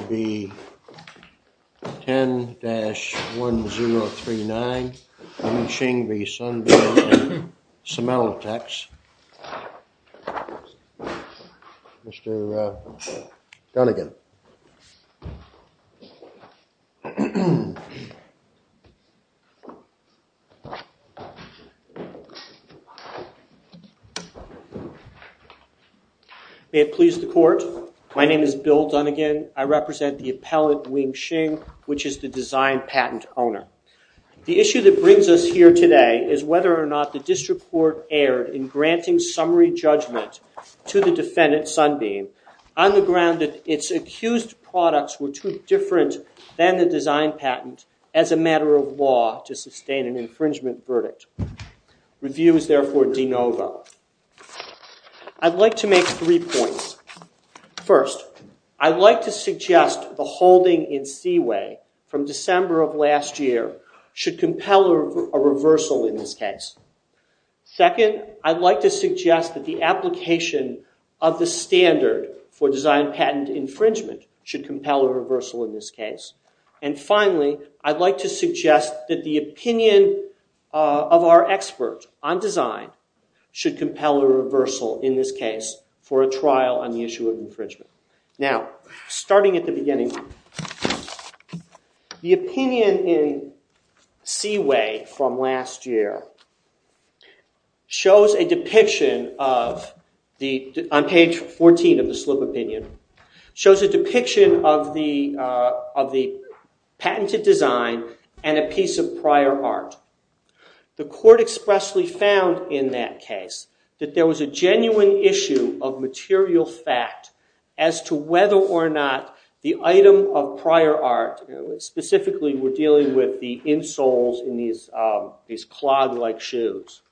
10-1039 Shing v. Sunbeam & Cemental Techs Mr. Dunnigan May it please the court, my name is Bill Dunnigan. I represent the appellate Wing Shing, which is the design patent owner. The issue that brings us here today is whether or not the district court erred in granting summary judgment to the defendant, Sunbeam, on the ground that its accused products were too different than the design patent as a matter of law to sustain an infringement verdict. Review is therefore de novo. I'd like to make three points. First, I'd like to suggest the holding in Seaway from December of last year should compel a reversal in this case. Second, I'd like to suggest that the application of the standard for design patent infringement should compel a reversal in this case. And finally, I'd like to suggest that the opinion of our expert on design should compel a reversal in this case for a trial on the issue of infringement. Now, starting at the beginning, the opinion in Seaway from last year shows a depiction of, on page 14 of the slip opinion, shows a depiction of the patented design and a piece of prior art. The court expressly found in that case that there was a genuine issue of material fact as to whether or not the item of prior art, specifically we're dealing with the insoles in these clog-like shoes,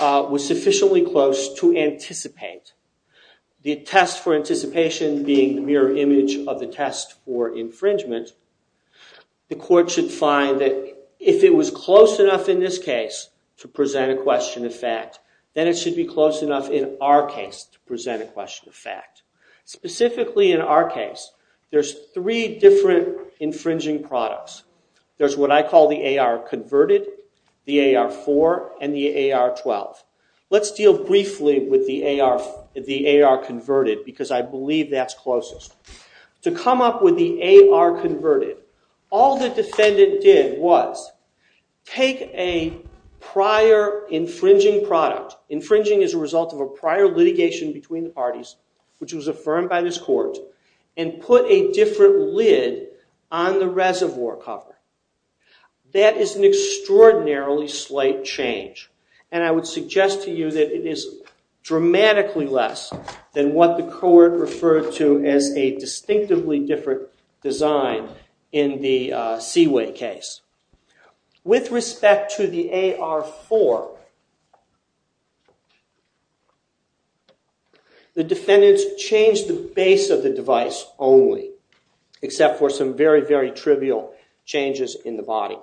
was sufficiently close to anticipate. The test for anticipation being the mirror image of the test for infringement, the court should find that if it was close enough in this case to present a question of fact, then it should be close enough in our case to present a question of fact. Specifically in our case, there's three different infringing products. There's what I call the AR Converted, the AR-4, and the AR-12. Let's deal briefly with the AR Converted, because I believe that's closest. To come up with the AR Converted, all the defendant did was take a prior infringing product, infringing as a result of a prior litigation between the parties, which was affirmed by this court, and put a different lid on the reservoir cover. That is an extraordinarily slight change, and I would suggest to you that it is dramatically less than what the court referred to as a distinctively different design in the Seaway case. With respect to the AR-4, the defendants changed the base of the device only, except for some very, very trivial changes in the body.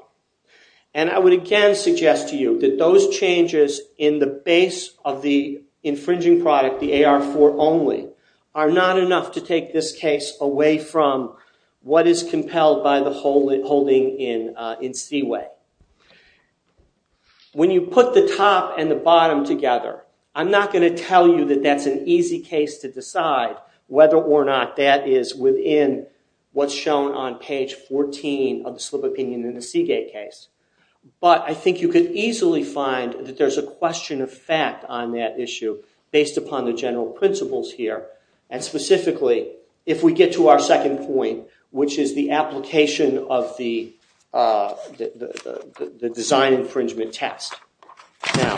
I would again suggest to you that those changes in the base of the infringing product, the AR-4 only, are not enough to take this case away from what is compelled by the holding in Seaway. When you put the top and the bottom together, I'm not going to tell you that that's an easy case to decide whether or not that is within what's shown on page 14 of the slip opinion in the Seagate case. But I think you could easily find that there's a question of fact on that issue based upon the general principles here, and specifically if we get to our second point, which is the application of the design infringement test. Now,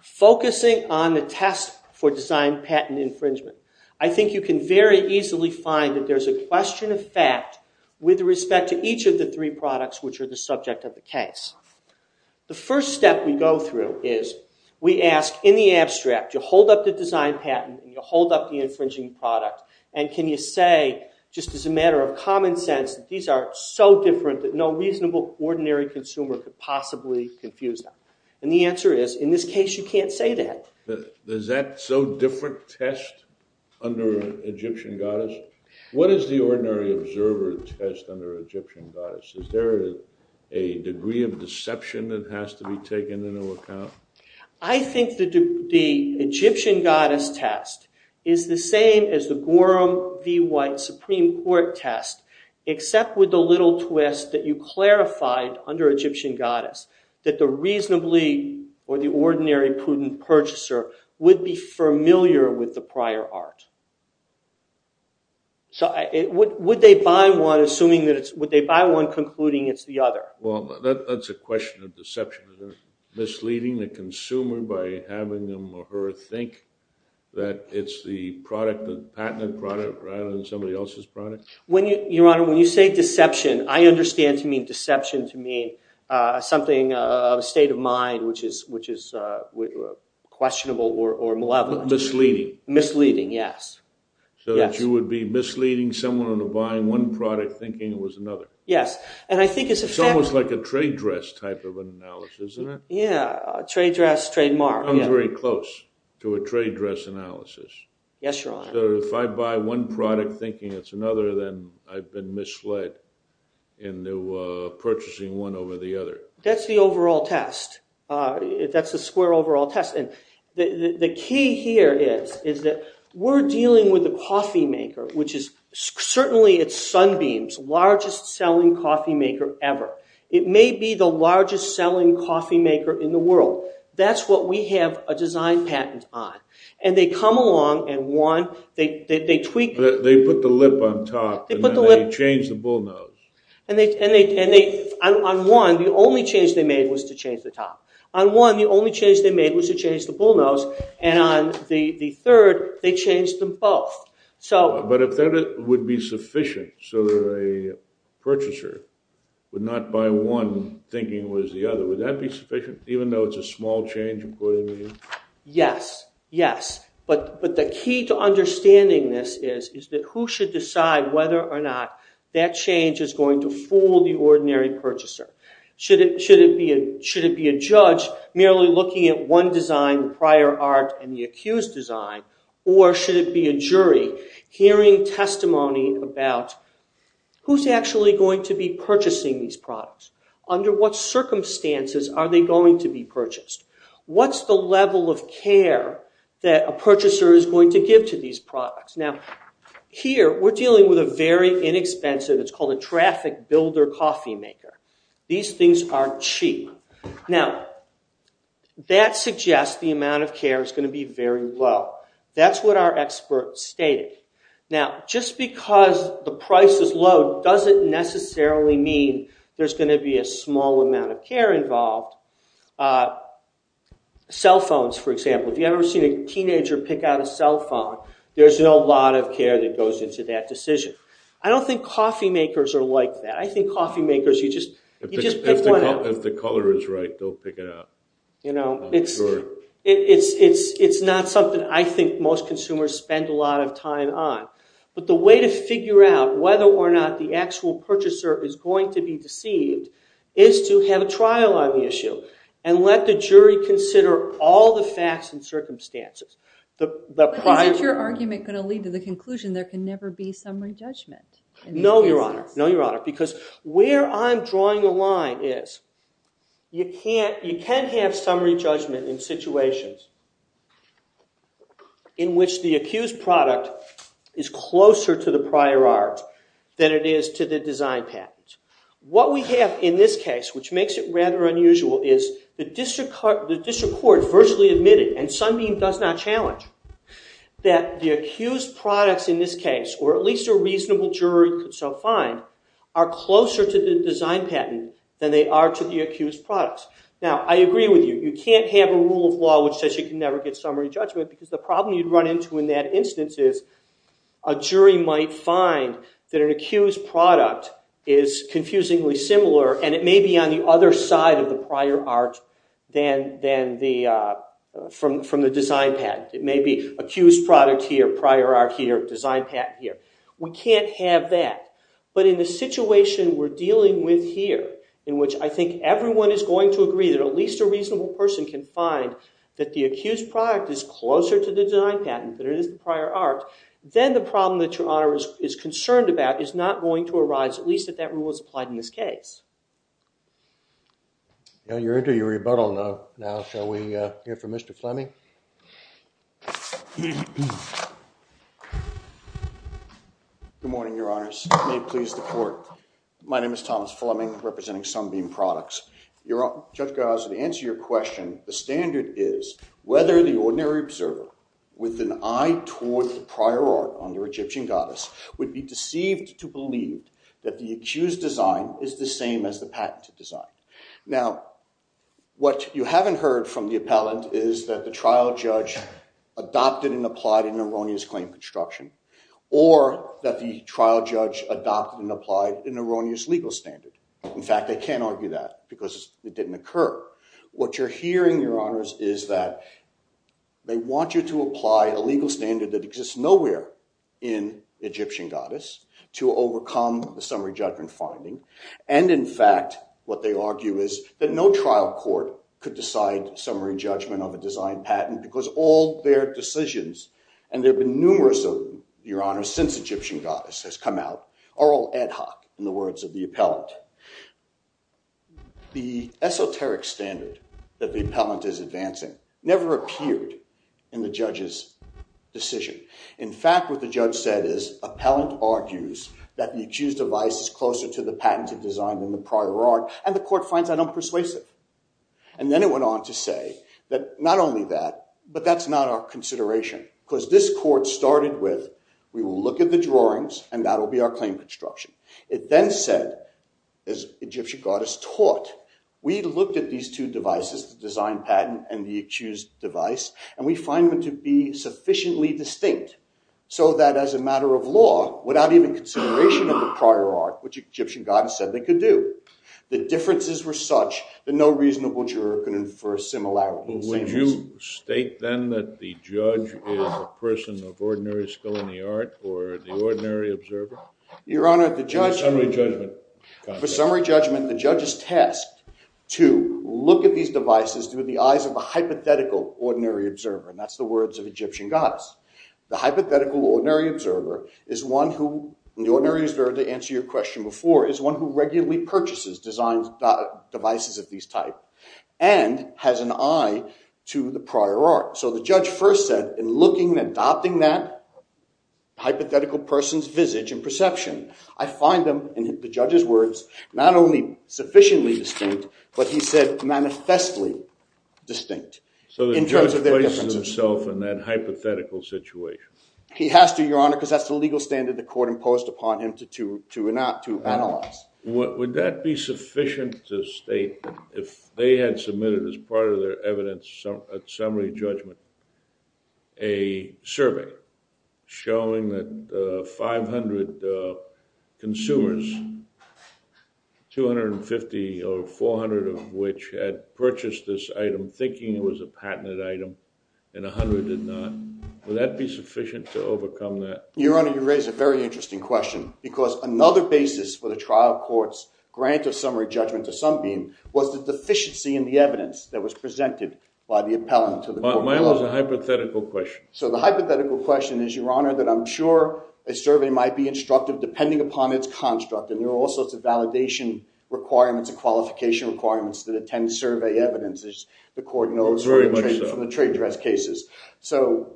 focusing on the test for design patent infringement, I think you can very easily find that there's a question of fact with respect to each of the three products which are the subject of the case. The first step we go through is we ask, in the abstract, you hold up the design patent, you hold up the infringing product, and can you say, just as a matter of common sense, these are so different that no reasonable, ordinary consumer could possibly confuse them. And the answer is, in this case, you can't say that. Is that so different test under Egyptian goddess? What is the ordinary observer test under Egyptian goddess? Is there a degree of deception that has to be taken into account? I think the Egyptian goddess test is the same as the Gorham v. White Supreme Court test, except with the little twist that you clarified under Egyptian goddess, that the reasonably or the ordinary prudent purchaser would be familiar with the prior art. So would they buy one assuming that it's, would they buy one concluding it's the other? Well, that's a question of deception. Is it misleading the consumer by having them or her think that it's the patented product rather than somebody else's product? Your Honor, when you say deception, I understand to mean deception to mean something of a state of mind which is questionable or malevolent. Misleading. Misleading, yes. So that you would be misleading someone into buying one product thinking it was another? Yes. It's almost like a trade dress type of analysis, isn't it? Yeah, a trade dress trademark. It comes very close to a trade dress analysis. Yes, Your Honor. So if I buy one product thinking it's another, then I've been misled into purchasing one over the other. That's the overall test. That's the square overall test. And the key here is that we're dealing with a coffee maker, which is certainly at Sunbeam's largest selling coffee maker ever. It may be the largest selling coffee maker in the world. That's what we have a design patent on. And they come along and one, they tweak. They put the lip on top and then they change the bullnose. And on one, the only change they made was to change the top. On one, the only change they made was to change the bullnose. And on the third, they changed them both. But if that would be sufficient so that a purchaser would not buy one thinking it was the other, would that be sufficient? Even though it's a small change, according to you? Yes. Yes. But the key to understanding this is that who should decide whether or not that change is going to fool the ordinary purchaser. Should it be a judge merely looking at one design, the prior art, and the accused design? Or should it be a jury hearing testimony about who's actually going to be purchasing these products? Under what circumstances are they going to be purchased? What's the level of care that a purchaser is going to give to these products? Now, here we're dealing with a very inexpensive, it's called a traffic builder coffee maker. These things are cheap. Now, that suggests the amount of care is going to be very low. That's what our expert stated. Now, just because the price is low doesn't necessarily mean there's going to be a small amount of care involved. Cell phones, for example. Have you ever seen a teenager pick out a cell phone? There's a lot of care that goes into that decision. I don't think coffee makers are like that. I think coffee makers, you just pick one out. If the color is right, they'll pick it out. You know, it's not something I think most consumers spend a lot of time on. But the way to figure out whether or not the actual purchaser is going to be deceived is to have a trial on the issue and let the jury consider all the facts and circumstances. But isn't your argument going to lead to the conclusion there can never be summary judgment? No, Your Honor. No, Your Honor. Because where I'm drawing the line is you can have summary judgment in situations in which the accused product is closer to the prior art than it is to the design package. What we have in this case, which makes it rather unusual, is the district court virtually admitted, and Sunbeam does not challenge, that the accused products in this case, or at least a reasonable jury could so find, are closer to the design patent than they are to the accused products. Now, I agree with you. You can't have a rule of law which says you can never get summary judgment because the problem you'd run into in that instance is a jury might find that an accused product is confusingly similar, and it may be on the other side of the prior art from the design patent. It may be accused product here, prior art here, design patent here. We can't have that. But in the situation we're dealing with here, in which I think everyone is going to agree that at least a reasonable person can find that the accused product is closer to the design patent than it is the prior art, then the problem that Your Honor is concerned about is not going to arise, at least if that rule is applied in this case. You're into your rebuttal now. Shall we hear from Mr. Fleming? Good morning, Your Honors. May it please the court. My name is Thomas Fleming, representing Sunbeam Products. Judge Garza, to answer your question, the standard is, whether the ordinary observer with an eye toward the prior art on the Egyptian goddess would be deceived to believe that the accused design is the same as the patented design. Now, what you haven't heard from the appellant is that the trial judge adopted and applied an erroneous claim construction, or that the trial judge adopted and applied an erroneous legal standard. In fact, I can't argue that because it didn't occur. What you're hearing, Your Honors, is that they want you to apply a legal standard that exists nowhere in Egyptian goddess to overcome the summary judgment finding. And in fact, what they argue is that no trial court could decide summary judgment of a design patent because all their decisions, and there have been numerous of them, Your Honors, since Egyptian goddess has come out, are all ad hoc in the words of the appellant. The esoteric standard that the appellant is advancing never appeared in the judge's decision. In fact, what the judge said is, appellant argues that the accused device is closer to the patented design than the prior art, and the court finds that unpersuasive. And then it went on to say that not only that, but that's not our consideration because this court started with, we will look at the drawings and that will be our claim construction. It then said, as Egyptian goddess taught, we looked at these two devices, the design patent and the accused device, and we find them to be sufficiently distinct, so that as a matter of law, without even consideration of the prior art, which Egyptian goddess said they could do, the differences were such that no reasonable juror could infer similarity. Would you state then that the judge is a person of ordinary skill in the art or the ordinary observer? Your Honor, the judge... Summary judgment. For summary judgment, the judge is tasked to look at these devices through the eyes of a hypothetical ordinary observer, and that's the words of Egyptian goddess. The hypothetical ordinary observer is one who, the ordinary observer, to answer your question before, is one who regularly purchases designs, devices of these type, and has an eye to the prior art. So the judge first said, in looking and adopting that hypothetical person's visage and perception, I find them, in the judge's words, not only sufficiently distinct, but he said manifestly distinct. So the judge places himself in that hypothetical situation. He has to, Your Honor, because that's the legal standard the court imposed upon him to analyze. Would that be sufficient to state, if they had submitted as part of their evidence a summary judgment, a survey showing that 500 consumers, 250 or 400 of which had purchased this item thinking it was a patented item and 100 did not, would that be sufficient to overcome that? Your Honor, you raise a very interesting question because another basis for the trial court's grant of summary judgment to some being was the deficiency in the evidence that was presented by the appellant to the court. Mine was a hypothetical question. So the hypothetical question is, Your Honor, that I'm sure a survey might be instructive depending upon its construct, and there are all sorts of validation requirements and qualification requirements that attend survey evidence, as the court knows from the trade dress cases. So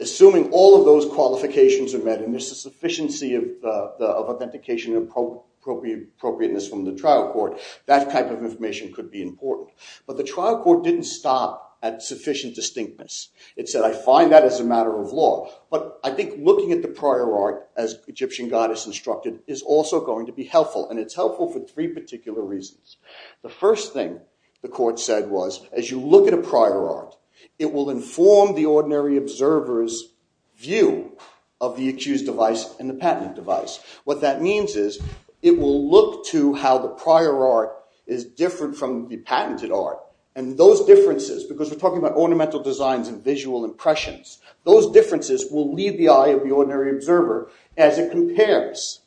assuming all of those qualifications are met and there's a sufficiency of authentication and appropriateness from the trial court, that type of information could be important. But the trial court didn't stop at sufficient distinctness. It said, I find that as a matter of law. But I think looking at the prior art, as Egyptian goddess instructed, is also going to be helpful, and it's helpful for three particular reasons. The first thing the court said was, as you look at a prior art, it will inform the ordinary observer's view of the accused device and the patented device. What that means is it will look to how the prior art is different from the patented art, and those differences, because we're talking about ornamental designs and visual impressions, those differences will leave the eye of the ordinary observer as it compares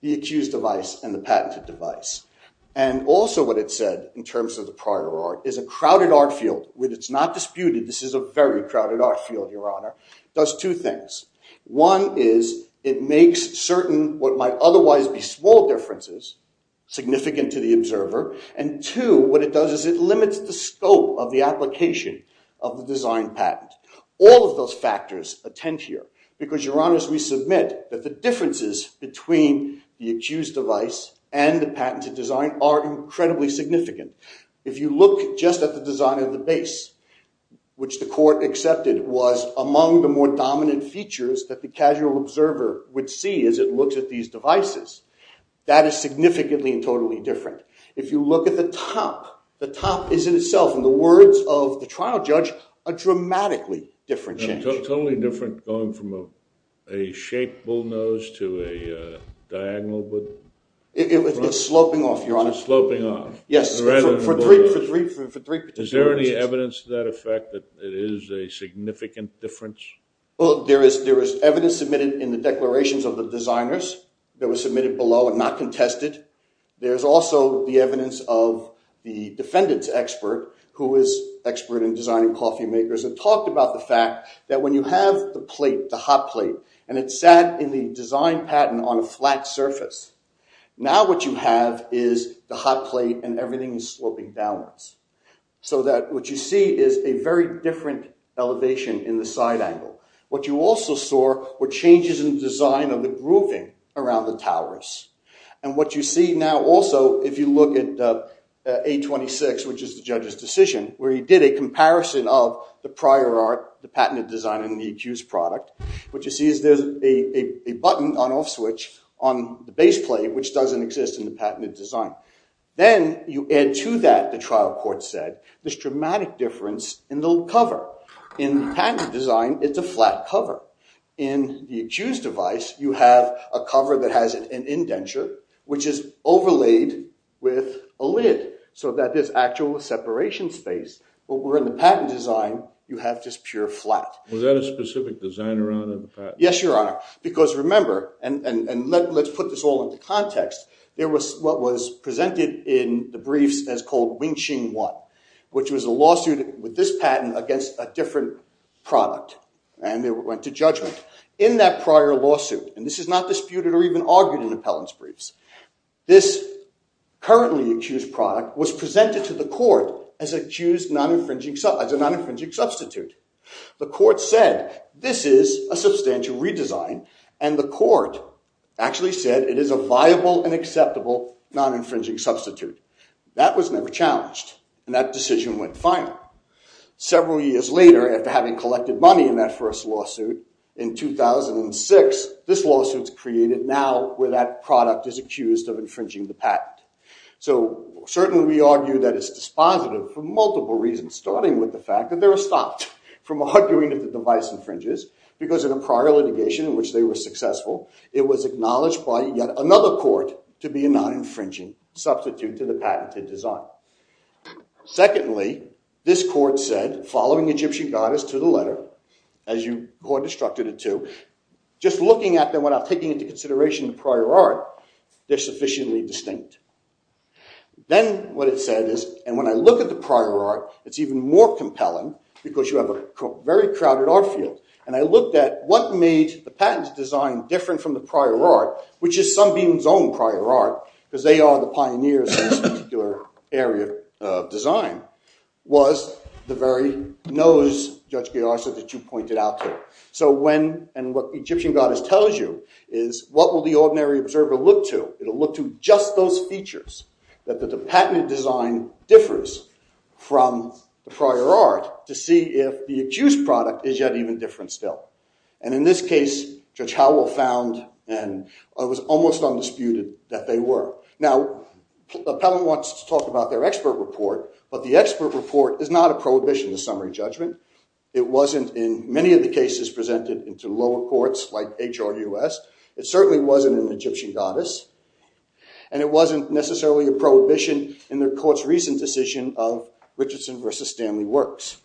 the accused device and the patented device. And also what it said in terms of the prior art is a crowded art field, where it's not disputed, this is a very crowded art field, Your Honor, does two things. One is it makes certain what might otherwise be small differences significant to the observer. And two, what it does is it limits the scope of the application of the design patent. All of those factors attend here, because, Your Honors, we submit that the differences between the accused device and the patented design are incredibly significant. If you look just at the design of the base, which the court accepted was among the more dominant features that the casual observer would see as it looks at these devices, that is significantly and totally different. If you look at the top, the top is in itself, in the words of the trial judge, a dramatically different change. Totally different going from a shaped bullnose to a diagonal bullnose? It's sloping off, Your Honor. Sloping off? Yes, for three particular reasons. Is there any evidence to that effect that it is a significant difference? Well, there is evidence submitted in the declarations of the designers that was submitted below and not contested. There is also the evidence of the defendant's expert, who is an expert in designing coffee makers, and talked about the fact that when you have the plate, the hot plate, and it sat in the design patent on a flat surface, now what you have is the hot plate and everything is sloping downwards. So that what you see is a very different elevation in the side angle. What you also saw were changes in the design of the grooving around the towers. And what you see now also, if you look at 826, which is the judge's decision, where he did a comparison of the prior art, the patented design, and the accused product, what you see is there's a button on off switch on the base plate, which doesn't exist in the patented design. Then you add to that, the trial court said, this dramatic difference in the cover. In the patented design, it's a flat cover. In the accused device, you have a cover that has an indenture, which is overlaid with a lid, so that there's actual separation space. But where in the patent design, you have just pure flat. Was that a specific designer on the patent? Yes, Your Honor. Because remember, and let's put this all into context, there was what was presented in the briefs as called Wing Ching 1, which was a lawsuit with this patent against a different product. And they went to judgment. In that prior lawsuit, and this is not disputed or even argued in appellant's briefs, this currently accused product was presented to the court as a non-infringing substitute. The court said, this is a substantial redesign. And the court actually said, it is a viable and acceptable non-infringing substitute. That was never challenged. And that decision went final. Several years later, after having collected money in that first lawsuit, in 2006, this lawsuit's created now where that product is accused of infringing the patent. So certainly we argue that it's dispositive for multiple reasons, starting with the fact that they were stopped from arguing if the device infringes, because in a prior litigation in which they were successful, it was acknowledged by yet another court to be a non-infringing substitute to the patented design. Secondly, this court said, following Egyptian goddess to the letter, as you court instructed it to, just looking at them without taking into consideration the prior art, they're sufficiently distinct. Then what it said is, and when I look at the prior art, it's even more compelling because you have a very crowded art field. And I looked at what made the patent design different from the prior art, which is some beings own prior art, because they are the pioneers in this particular area of design, was the very nose, Judge Gay-Arsa, that you pointed out there. So when, and what Egyptian goddess tells you, is what will the ordinary observer look to? It'll look to just those features, that the patented design differs from the prior art, to see if the accused product is yet even different still. And in this case, Judge Howell found, and it was almost undisputed that they were. Now, Appellant wants to talk about their expert report, but the expert report is not a prohibition to summary judgment. It wasn't in many of the cases presented into lower courts like HRUS. It certainly wasn't in Egyptian goddess. And it wasn't necessarily a prohibition in the court's recent decision of Richardson versus Stanley Works.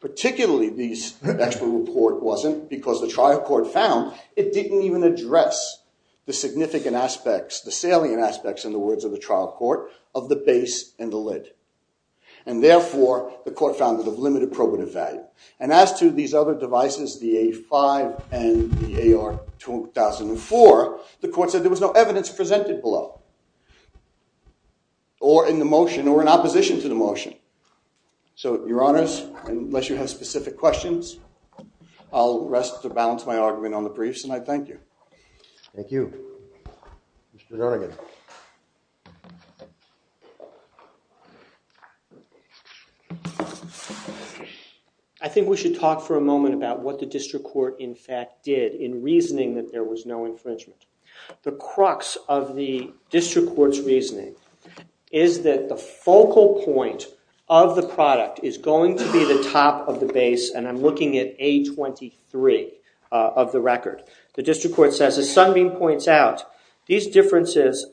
Particularly, this expert report wasn't, because the trial court found, it didn't even address the significant aspects, the salient aspects in the words of the trial court, of the base and the lid. And therefore, the court found it of limited probative value. And as to these other devices, the A5 and the AR2004, the court said there was no evidence presented below, or in the motion, or in opposition to the motion. So, your honors, unless you have specific questions, I'll rest to balance my argument on the briefs, and I thank you. Thank you. Mr. Dornigan. I think we should talk for a moment about what the district court, in fact, did, in reasoning that there was no infringement. The crux of the district court's reasoning is that the focal point of the product is going to be the top of the base, and I'm looking at A23 of the record. The district court says, as Sunbeam points out, these differences,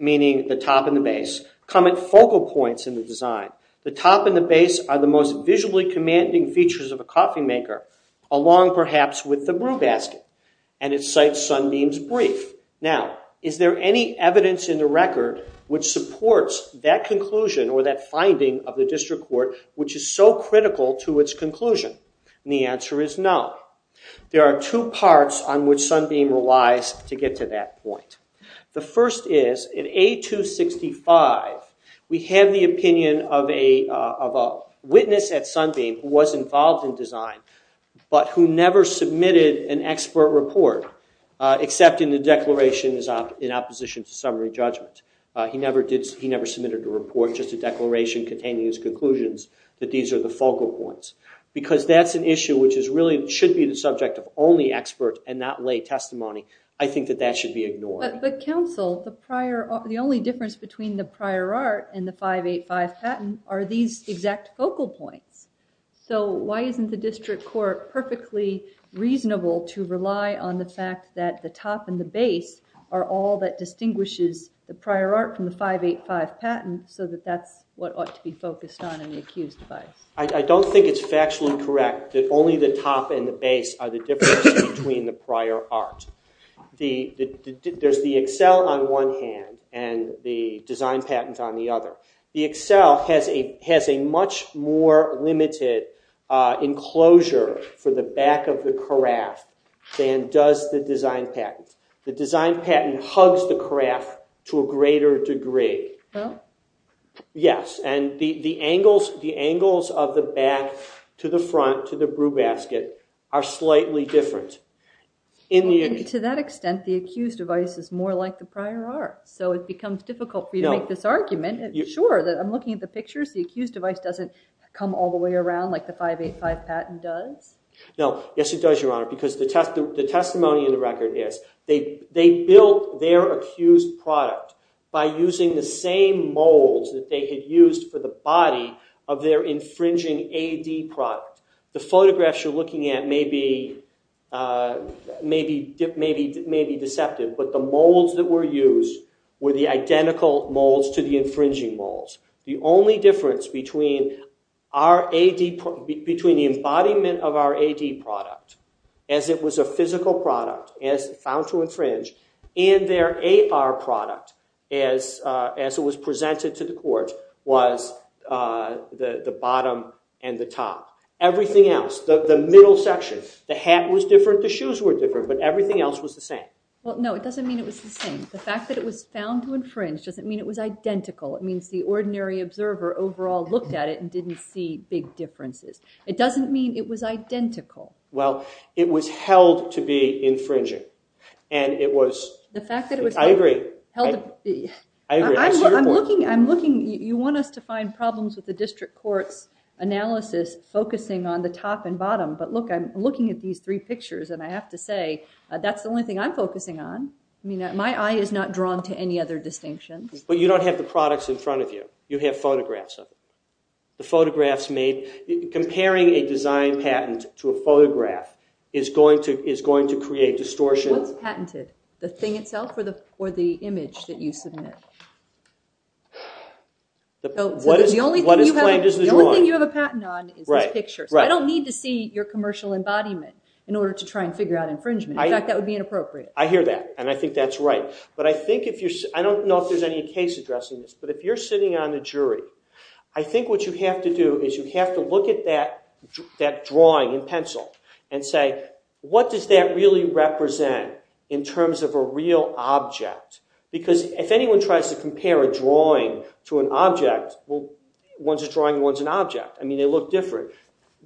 meaning the top and the base, come at focal points in the design. The top and the base are the most visually commanding features of a coffee maker, along, perhaps, with the brew basket. And it cites Sunbeam's brief. Now, is there any evidence in the record which supports that conclusion, or that finding of the district court, which is so critical to its conclusion? And the answer is no. There are two parts on which Sunbeam relies to get to that point. The first is, in A265, we have the opinion of a witness at Sunbeam who was involved in design, but who never submitted an expert report, except in the declaration in opposition to summary judgment. He never submitted a report, just a declaration containing his conclusions, that these are the focal points. Because that's an issue which really should be the subject of only expert and not lay testimony. I think that that should be ignored. But counsel, the only difference between the prior art and the 585 patent are these exact focal points. So why isn't the district court perfectly reasonable to rely on the fact that the top and the base are all that distinguishes the prior art from the 585 patent, so that that's what ought to be focused on in the accused device? I don't think it's factually correct that only the top and the base are the difference between the prior art. There's the Excel on one hand, and the design patent on the other. The Excel has a much more limited enclosure for the back of the carafe than does the design patent. The design patent hugs the carafe to a greater degree. Yes, and the angles of the back to the front, to the brew basket, are slightly different. To that extent, the accused device is more like the prior art. So it becomes difficult for you to make this argument. Sure, I'm looking at the pictures. The accused device doesn't come all the way around like the 585 patent does? No, yes it does, Your Honor, because the testimony in the record is they built their accused product by using the same molds that they had used for the body of their infringing AD product. The photographs you're looking at may be deceptive, but the molds that were used were the identical molds to the infringing molds. The only difference between the embodiment of our AD product as it was a physical product found to infringe and their AR product as it was presented to the court was the bottom and the top. Everything else, the middle section, the hat was different, the shoes were different, but everything else was the same. No, it doesn't mean it was the same. The fact that it was found to infringe doesn't mean it was identical. It means the ordinary observer overall looked at it and didn't see big differences. It doesn't mean it was identical. Well, it was held to be infringing, and it was... The fact that it was... I agree. I agree. I see your point. I'm looking... You want us to find problems with the district court's analysis focusing on the top and bottom, but look, I'm looking at these three pictures and I have to say that's the only thing I'm focusing on. My eye is not drawn to any other distinctions. But you don't have the products in front of you. You have photographs of it. The photographs made... Comparing a design patent to a photograph is going to create distortion. What's patented? The thing itself or the image that you submit? What is claimed is the drawing. The only thing you have a patent on is this picture, so I don't need to see your commercial embodiment in order to try and figure out infringement. In fact, that would be inappropriate. I hear that, and I think that's right. But I think if you're... I don't know if there's any case addressing this, but if you're sitting on the jury, I think what you have to do is you have to look at that drawing in pencil and say, what does that really represent in terms of a real object? Because if anyone tries to compare a drawing to an object, well, one's a drawing, one's an object. I mean, they look different.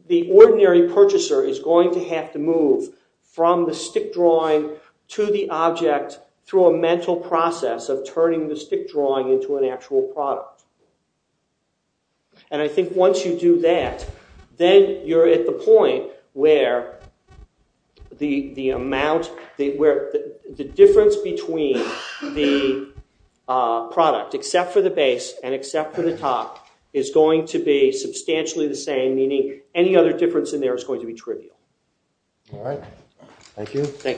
The ordinary purchaser is going to have to move from the stick drawing to the object through a mental process of turning the stick drawing into an actual product. And I think once you do that, then you're at the point where the difference between the product, except for the base and except for the top, is going to be substantially the same, meaning any other difference in there is going to be trivial. All right. Thank you. Thank you.